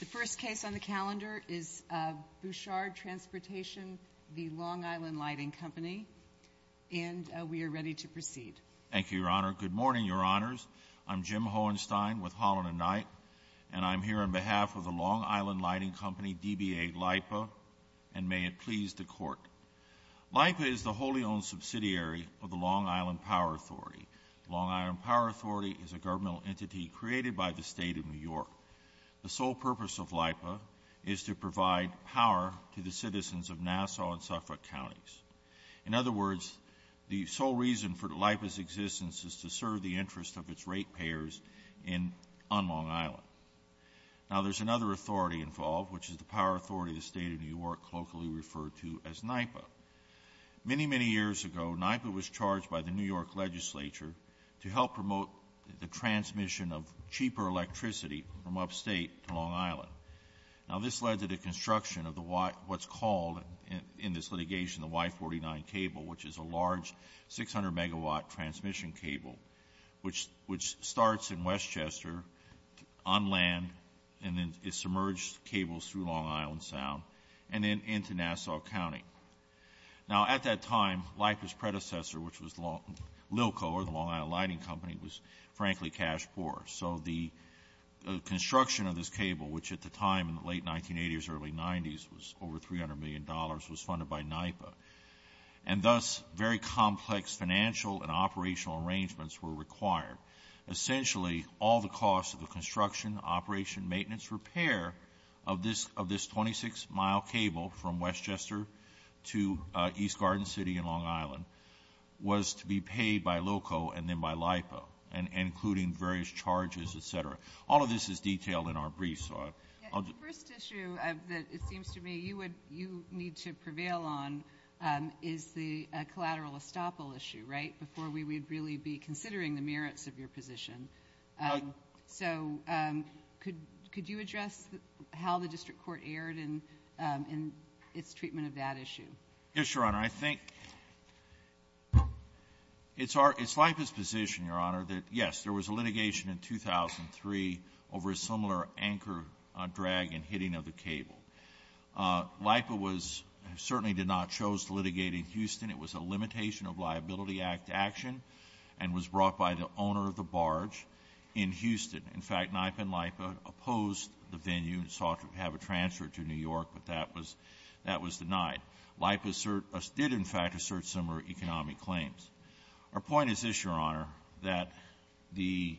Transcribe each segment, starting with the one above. The first case on the calendar is Bouchard Transportation v. Long Island Lighting Company, and we are ready to proceed. Thank you, Your Honor. Good morning, Your Honors. I'm Jim Hohenstein with Holland & Knight, and I'm here on behalf of the Long Island Lighting Company, DBA, LIPA, and may it please the Court, LIPA is the wholly owned subsidiary of the Long Island Power Authority. The Long Island Power Authority is a governmental entity created by the State of New York. The sole purpose of LIPA is to provide power to the citizens of Nassau and Suffolk counties. In other words, the sole reason for LIPA's existence is to serve the interests of its rate payers on Long Island. Now, there's another authority involved, which is the Power Authority of the State of New York, colloquially referred to as NIPA. Many, many years ago, NIPA was charged by the New York legislature to help promote the transmission of cheaper electricity from upstate to Long Island. Now, this led to the construction of what's called in this litigation the Y-49 cable, which is a large 600-megawatt transmission cable, which starts in Westchester on land and then it submerges cables through Long Island Sound and then into Nassau County. Now, at that time, LIPA's predecessor, which was Lilco, or the Long Island Lighting Company, was frankly cash poor. So the construction of this cable, which at the time in the late 1980s, early 90s was over $300 million, was funded by NIPA. And thus, very complex financial and operational arrangements were required. Essentially, all the costs of the construction, operation, maintenance, repair of this 26-mile cable from Westchester to East Garden City in Long Island was to be paid by Lilco and then by LIPA, and including various charges, et cetera. All of this is detailed in our briefs, so I'll just... The first issue that it seems to me you need to prevail on is the collateral estoppel issue, right? Before we would really be considering the merits of your position. So could you address how the district court erred in its treatment of that issue? Yes, Your Honor. I think it's LIPA's position, Your Honor, that yes, there was a litigation in 2003 over a similar anchor drag and hitting of the cable. LIPA certainly did not chose to litigate in Houston. It was a limitation of Liability Act action and was brought by the owner of the barge in Houston. In fact, NIPA and LIPA opposed the venue and sought to have a transfer to New York, but that was denied. LIPA did, in fact, assert similar economic claims. Our point is this, Your Honor, that the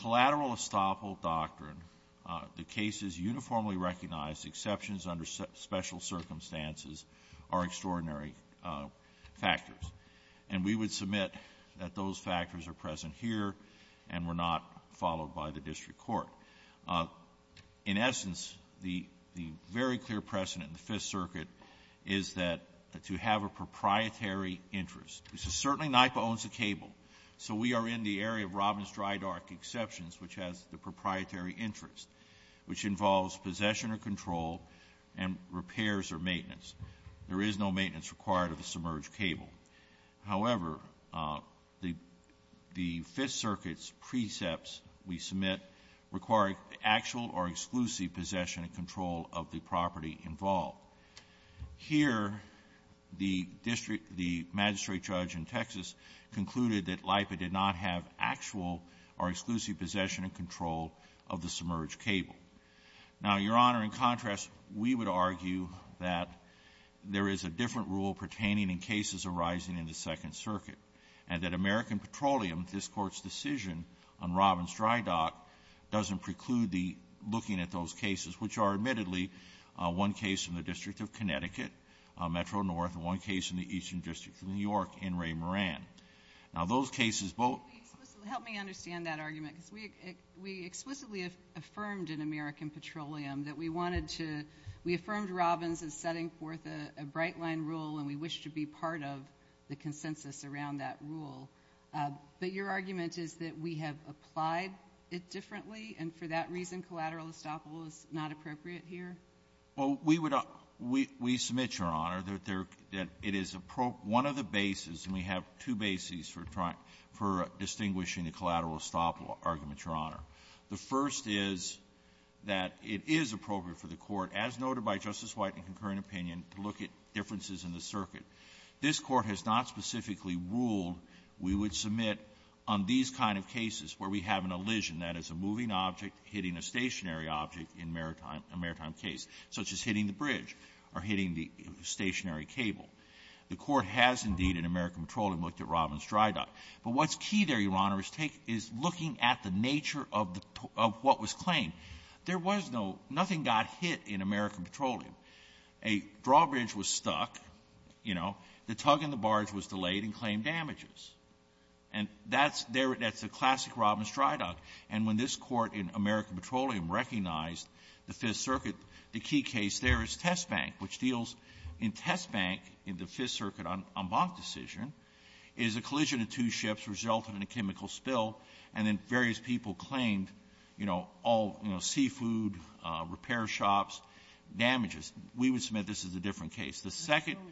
collateral estoppel doctrine, the cases uniformly recognized, exceptions under special circumstances, are extraordinary factors, and we would submit that those factors are present here and were not followed by the district court. In essence, the very clear precedent in the Fifth Circuit is that to have a proprietary interest. Certainly, NIPA owns the cable, so we are in the area of Robbins-Drydark exceptions, which has the proprietary interest, which involves possession or control and repairs or maintenance. There is no maintenance required of a submerged cable. However, the Fifth Circuit's precepts we submit require actual or exclusive possession and control of the property involved. Here the district the magistrate judge in Texas concluded that LIPA did not have actual or exclusive possession and control of the submerged cable. Now, Your Honor, in contrast, we would argue that there is a different rule pertaining in cases arising in the Second Circuit, and that American Petroleum, this Court's decision on Robbins-Drydark, doesn't preclude the looking at those cases, which are, admittedly, one case in the District of Connecticut, Metro-North, and one case in the Eastern District of New York in Ray-Moran. Now, those cases both — Help me understand that argument, because we explicitly affirmed in American Petroleum that we wanted to — we affirmed Robbins' setting forth a bright-line rule, and we wish to be part of the consensus around that rule. But your argument is that we have applied it differently, and for that reason collateral estoppel is not appropriate here? Well, we would — we — we submit, Your Honor, that there — that it is — one of the bases, and we have two bases for trying — for distinguishing the collateral estoppel argument, Your Honor. The first is that it is appropriate for the Court, as noted by Justice White in concurrent opinion, to look at differences in the circuit. This Court has not specifically ruled we would submit on these kind of cases where we have an elision, that is, a moving object hitting a stationary object in maritime — a maritime case, such as hitting the bridge or hitting the stationary cable. The Court has, indeed, in American Petroleum, looked at Robbins' dry dock. But what's key there, Your Honor, is take — is looking at the nature of the — of what was claimed. There was no — nothing got hit in American Petroleum. A drawbridge was stuck, you know. The tug and the barge was delayed and claimed damages. And that's — that's a classic Robbins' dry dock. And when this Court in American Petroleum recognized the Fifth Circuit, the key case there is Test Bank, which deals in Test Bank in the Fifth Circuit en banc decision, is a collision of two ships resulted in a chemical spill, and then various people claimed, you know, all, you know, seafood, repair shops, damages. We would submit this is a different case. The second —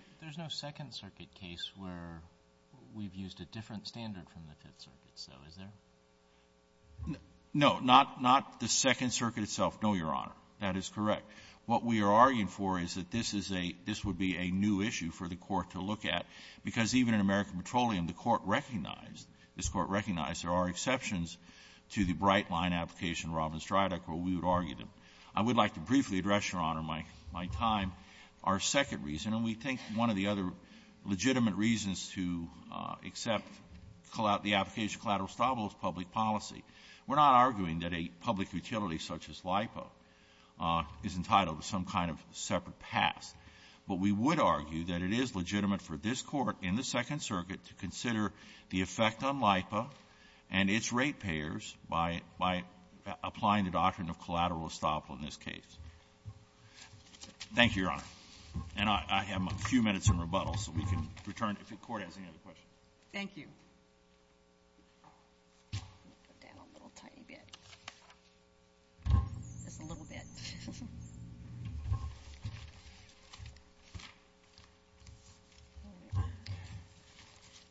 We've used a different standard from the Fifth Circuit, so is there? No. Not — not the Second Circuit itself. No, Your Honor. That is correct. What we are arguing for is that this is a — this would be a new issue for the Court to look at, because even in American Petroleum, the Court recognized — this Court recognized there are exceptions to the bright-line application of Robbins' dry dock, or we would argue them. I would like to briefly address, Your Honor, my — my time, our second reason. And we think one of the other legitimate reasons to accept the application of collateral estoppel is public policy. We're not arguing that a public utility such as LIPA is entitled to some kind of separate pass, but we would argue that it is legitimate for this Court in the Second Circuit to consider the effect on LIPA and its ratepayers by — by applying the doctrine of collateral estoppel in this case. Thank you, Your Honor. And I have a few minutes in rebuttal, so we can return if the Court has any other questions. Thank you. I'm going to put down a little tiny bit, just a little bit.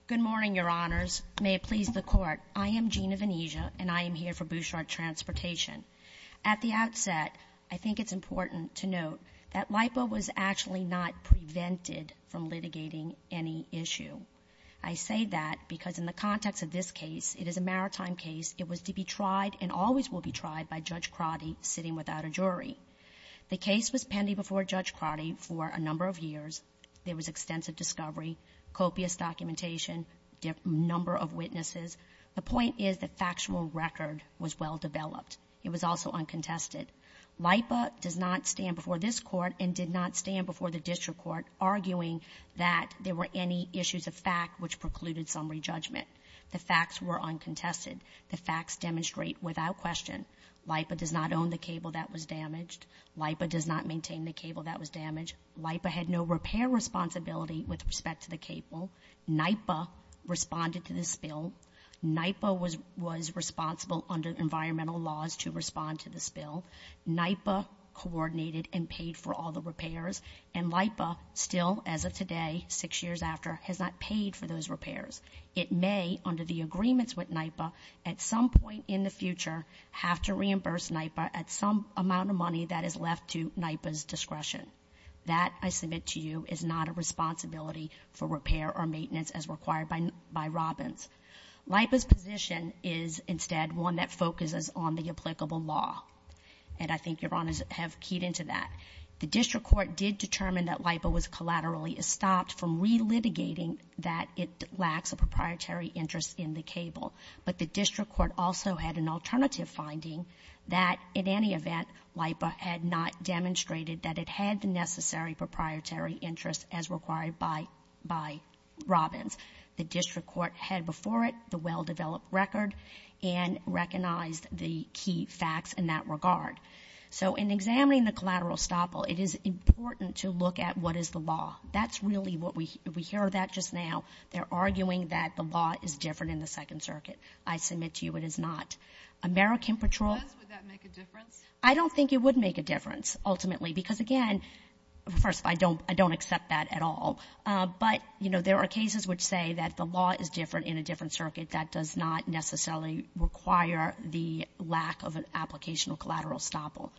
Good morning, Your Honors. May it please the Court. I am Gina Venezia, and I am here for Bouchard Transportation. At the outset, I think it's important to note that LIPA was actually not prevented from litigating any issue. I say that because in the context of this case, it is a maritime case. It was to be tried and always will be tried by Judge Crotty sitting without a jury. The case was pending before Judge Crotty for a number of years. There was extensive discovery, copious documentation, number of witnesses. The point is the factual record was well developed. It was also uncontested. LIPA does not stand before this Court and did not stand before the district court arguing that there were any issues of fact which precluded summary judgment. The facts were uncontested. The facts demonstrate without question LIPA does not own the cable that was damaged. LIPA does not maintain the cable that was damaged. LIPA had no repair responsibility with respect to the cable. NIPA responded to the spill. NIPA was responsible under environmental laws to respond to the spill. NIPA coordinated and paid for all the repairs. And LIPA still, as of today, six years after, has not paid for those repairs. It may, under the agreements with NIPA, at some point in the future, have to reimburse NIPA at some amount of money that is left to NIPA's discretion. That, I submit to you, is not a responsibility for repair or maintenance as required by Robbins. LIPA's position is instead one that focuses on the applicable law. And I think Your Honors have keyed into that. The district court did determine that LIPA was collaterally estopped from relitigating that it lacks a proprietary interest in the cable. But the district court also had an alternative finding that, in any event, LIPA had not demonstrated that it had the necessary proprietary interest as required by Robbins. The district court had before it the well-developed record and recognized the key facts in that regard. So, in examining the collateral estoppel, it is important to look at what is the law. That's really what we, we hear that just now. They're arguing that the law is different in the Second Circuit. I submit to you, it is not. American Patrol- If it was, would that make a difference? I don't think it would make a difference, ultimately. Because, again, first, I don't, I don't accept that at all. But, you know, there are cases which say that the law is different in a different circuit. That does not necessarily require the lack of an application of collateral estoppel.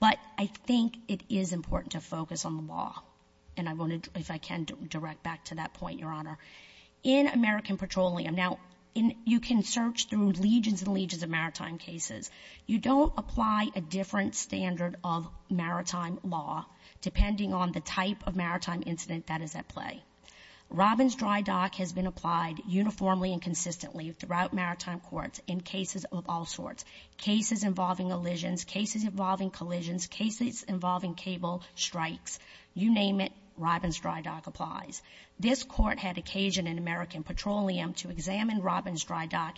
But I think it is important to focus on the law. And I want to, if I can, direct back to that point, Your Honor. In American Petroleum, now, you can search through legions and legions of maritime cases. You don't apply a different standard of maritime law, depending on the type of maritime incident that is at play. Robbins Dry Dock has been applied uniformly and consistently throughout maritime courts in cases of all sorts. Cases involving elisions, cases involving collisions, cases involving cable strikes. You name it, Robbins Dry Dock applies. This court had occasion in American Petroleum to examine Robbins Dry Dock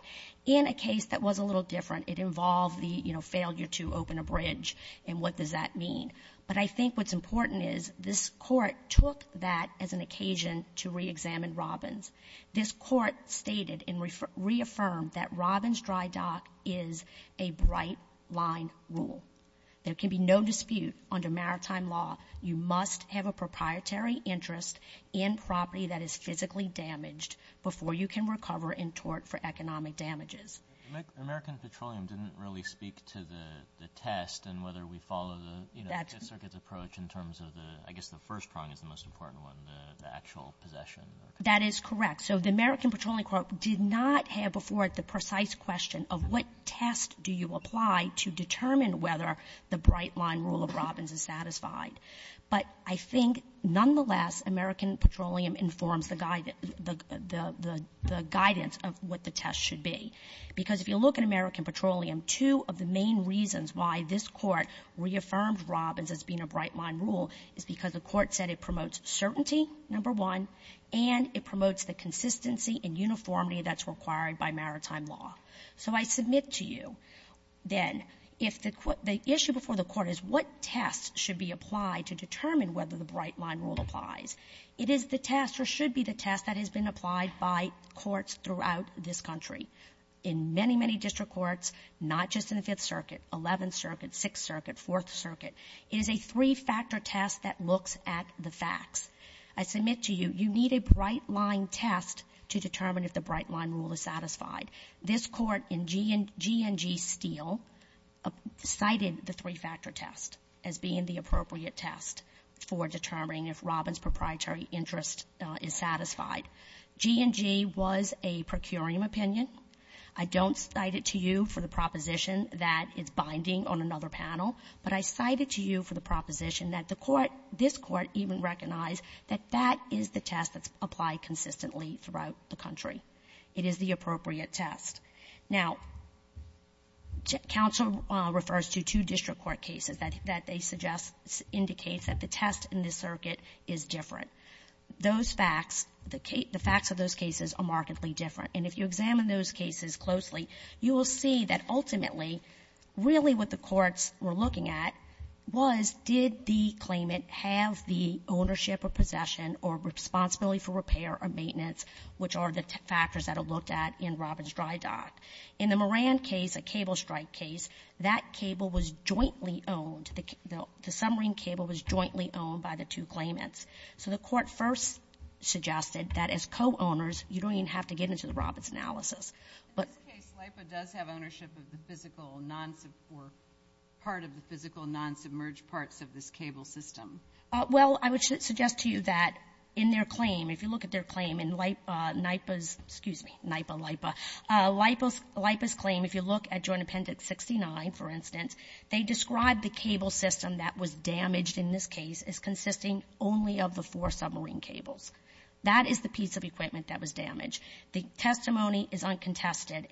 in a case that was a little different. It involved the, you know, failure to open a bridge. And what does that mean? But I think what's important is this court took that as an occasion to re-examine Robbins. This court stated and reaffirmed that Robbins Dry Dock is a bright line rule. There can be no dispute under maritime law, you must have a proprietary interest in property that is physically damaged before you can recover in tort for economic damages. American Petroleum didn't really speak to the test and whether we follow the, you know, the Fifth Circuit's approach in terms of the, I guess the first prong is the most important one, the actual possession. That is correct. So the American Petroleum Court did not have before it the precise question of what test do you apply to determine whether the bright line rule of Robbins is satisfied. But I think, nonetheless, American Petroleum informs the guidance of what the test should be. Because if you look at American Petroleum, two of the main reasons why this court reaffirmed Robbins as being a bright line rule is because the court said it promotes certainty, number one, and it promotes the consistency and uniformity that's required by maritime law. So I submit to you, then, if the issue before the court is what test should be applied to determine whether the bright line rule applies, it is the test or should be the test that has been applied by courts throughout this country. In many, many district courts, not just in the Fifth Circuit, Eleventh Circuit, Sixth Circuit, Fourth Circuit, it is a three-factor test that looks at the facts. I submit to you, you need a bright line test to determine if the bright line rule is satisfied. This Court in G and GNG Steele cited the three-factor test as being the appropriate test for determining if Robbins' proprietary interest is satisfied. G and G was a procurium opinion. I don't cite it to you for the proposition that it's binding on another panel, but I cite it to you for the proposition that the court, this court, even recognized that that is the test that's applied consistently throughout the country. It is the appropriate test. Now, counsel refers to two district court cases that they suggest indicates that the test in this circuit is different. Those facts, the facts of those cases are markedly different. And if you examine those cases closely, you will see that ultimately, really what the courts were looking at was did the claimant have the ownership or possession or responsibility for repair or maintenance, which are the factors that are looked at in Robbins' dry dock. In the Moran case, a cable strike case, that cable was jointly owned. The submarine cable was jointly owned by the two claimants. So the Court first suggested that as co-owners, you don't even have to get into the Robbins analysis. But the case, LIPA does have ownership of the physical non-submerge or part of the physical non-submerge parts of this cable system. Well, I would suggest to you that in their claim, if you look at their claim in NIPA's excuse me, NIPA, LIPA, LIPA's claim, if you look at Joint Appendix 69, for instance, they describe the cable system that was damaged in this case as consisting only of the four submarine cables. That is the piece of equipment that was damaged. The testimony is uncontested.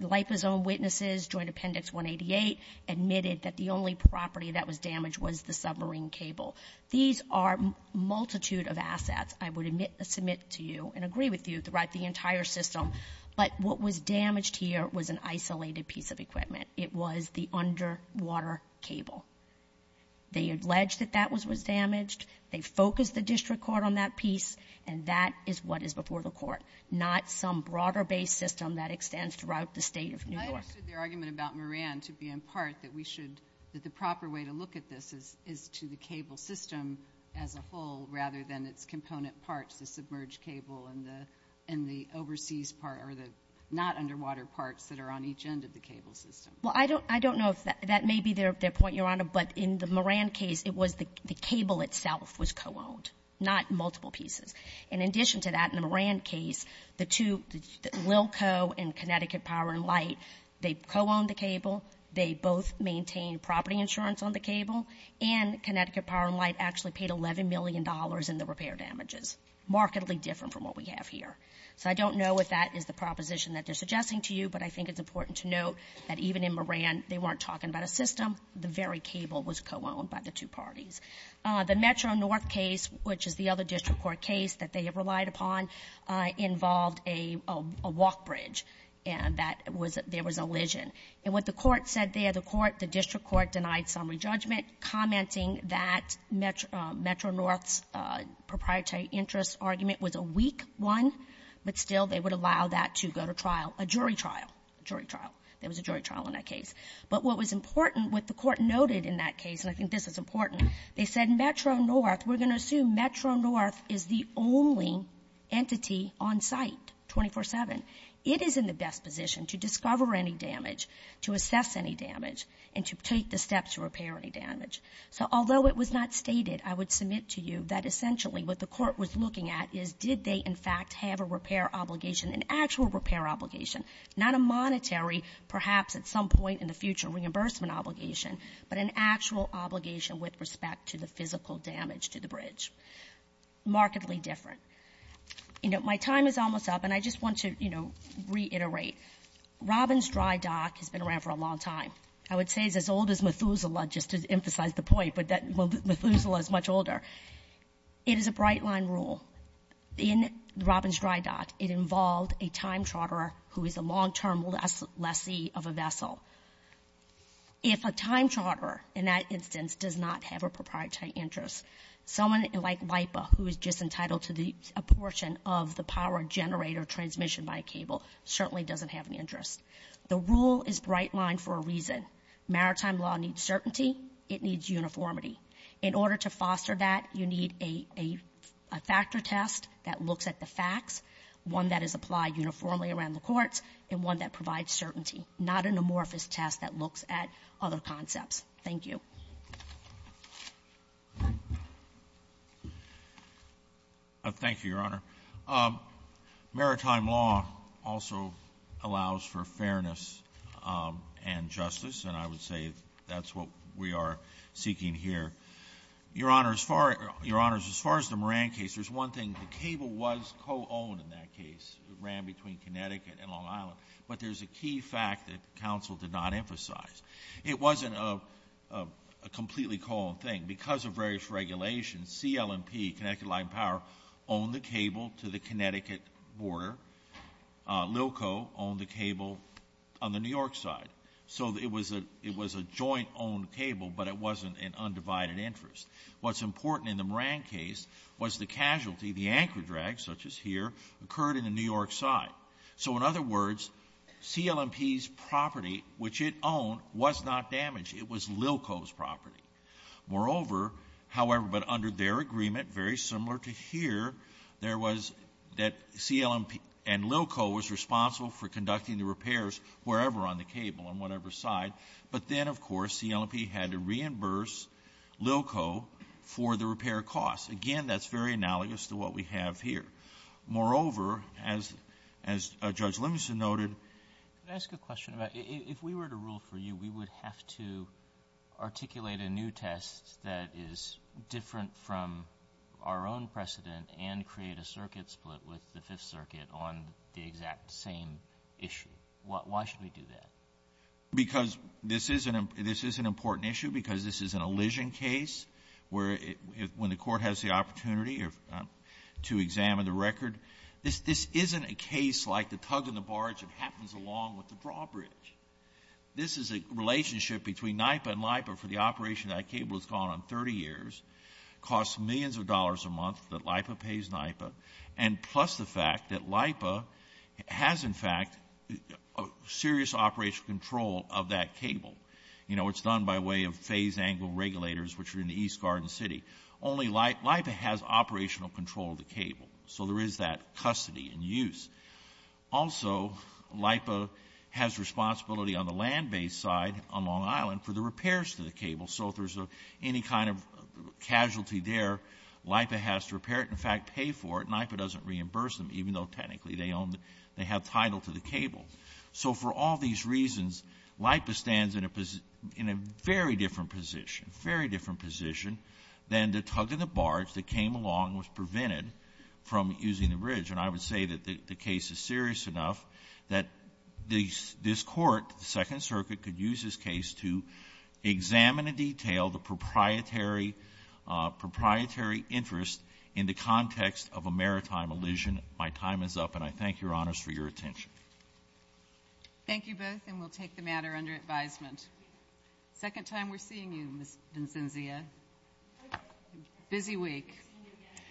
LIPA's own witnesses, Joint Appendix 188, admitted that the only property that was damaged was the submarine cable. These are a multitude of assets I would submit to you and agree with you throughout the entire system. But what was damaged here was an isolated piece of equipment. It was the underwater cable. They allege that that was damaged. They focused the district court on that piece. And that is what is before the Court, not some broader-based system that extends throughout the State of New York. I understood their argument about Moran to be in part that we should, that the proper way to look at this is to the cable system as a whole rather than its component parts, the submerged cable and the overseas part, or the not underwater parts that are on each end of the cable system. Well, I don't know if that may be their point, Your Honor, but in the Moran case, it was the cable itself was co-owned, not multiple pieces. In addition to that, in the Moran case, the two, Lilco and Connecticut Power and Light, they co-owned the cable. They both maintained property insurance on the cable. And Connecticut Power and Light actually paid $11 million in the repair damages, markedly different from what we have here. So I don't know if that is the proposition that they're suggesting to you, but I think it's important to note that even in Moran, they weren't talking about a system. The very cable was co-owned by the two parties. The Metro North case, which is the other district court case that they have relied upon, involved a walk bridge, and that was, there was a lesion. And what the court said there, the court, the district court denied summary judgment commenting that Metro North's proprietary interest argument was a weak one, but still they would allow that to go to trial, a jury trial, jury trial. There was a jury trial in that case. But what was important, what the court noted in that case, and I think this is important, they said Metro North, we're going to assume Metro North is the only entity on site 24-7. It is in the best position to discover any damage, to assess any damage, and to take the steps to repair any damage. So although it was not stated, I would submit to you that essentially what the court was looking at is, did they in fact have a repair obligation, an actual repair obligation? Not a monetary, perhaps at some point in the future, reimbursement obligation, but an actual obligation with respect to the physical damage to the bridge. Markedly different. You know, my time is almost up, and I just want to, you know, reiterate. Robbins Dry Dock has been around for a long time. I would say it's as old as Methuselah, just to emphasize the point, but that Methuselah is much older. It is a bright line rule. In Robbins Dry Dock, it involved a time charterer who is a long term lessee of a vessel. If a time charterer, in that instance, does not have a proprietary interest, someone like WIPA, who is just entitled to a portion of the power generator transmission by a cable, certainly doesn't have any interest. The rule is bright line for a reason. Maritime law needs certainty, it needs uniformity. In order to foster that, you need a factor test that looks at the facts, one that is applied uniformly around the courts, and one that provides certainty. Not an amorphous test that looks at other concepts. Thank you. Thank you, Your Honor. Maritime law also allows for fairness and justice, and I would say that's what we are seeking here. Your Honor, as far as the Moran case, there's one thing. The cable was co-owned in that case, it ran between Connecticut and Long Island. But there's a key fact that counsel did not emphasize. It wasn't a completely co-owned thing. Because of various regulations, CLMP, Connecticut Line of Power, owned the cable to the Connecticut border. Lilco owned the cable on the New York side. So it was a joint-owned cable, but it wasn't an undivided interest. What's important in the Moran case was the casualty, the anchor drag, such as here, occurred in the New York side. So in other words, CLMP's property, which it owned, was not damaged. It was Lilco's property. Moreover, however, but under their agreement, very similar to here, there was that CLMP and Lilco was responsible for conducting the repairs wherever on the cable, on whatever side. But then, of course, CLMP had to reimburse Lilco for the repair costs. Again, that's very analogous to what we have here. Moreover, as Judge Livingston noted- Can I ask a question about, if we were to rule for you, we would have to articulate a new test that is different from our own precedent and create a circuit split with the Fifth Circuit on the exact same issue. Why should we do that? Because this is an important issue, because this is an elision case, where, when the court has the opportunity to examine the record, this isn't a case like the tug and the barge that happens along with the drawbridge. This is a relationship between NIPA and LIPA for the operation of that cable that's gone on 30 years, costs millions of dollars a month that LIPA pays NIPA, and plus the fact that LIPA has, in fact, serious operational control of that cable. You know, it's done by way of phase angle regulators, which are in the East Garden City. Only LIPA has operational control of the cable, so there is that custody and use. Also, LIPA has responsibility on the land-based side on Long Island for the repairs to the cable. So if there's any kind of casualty there, LIPA has to repair it, in fact, pay for it. NIPA doesn't reimburse them, even though technically they have title to the cable. So for all these reasons, LIPA stands in a very different position, very different position than the tug and the barge that came along and was prevented from using the bridge. And I would say that the case is serious enough that this court, the Second Circuit, could use this case to examine in detail the proprietary interest in the context of a maritime elision. My time is up, and I thank Your Honors for your attention. Thank you both, and we'll take the matter under advisement. Second time we're seeing you, Ms. Vincenzia. Busy week.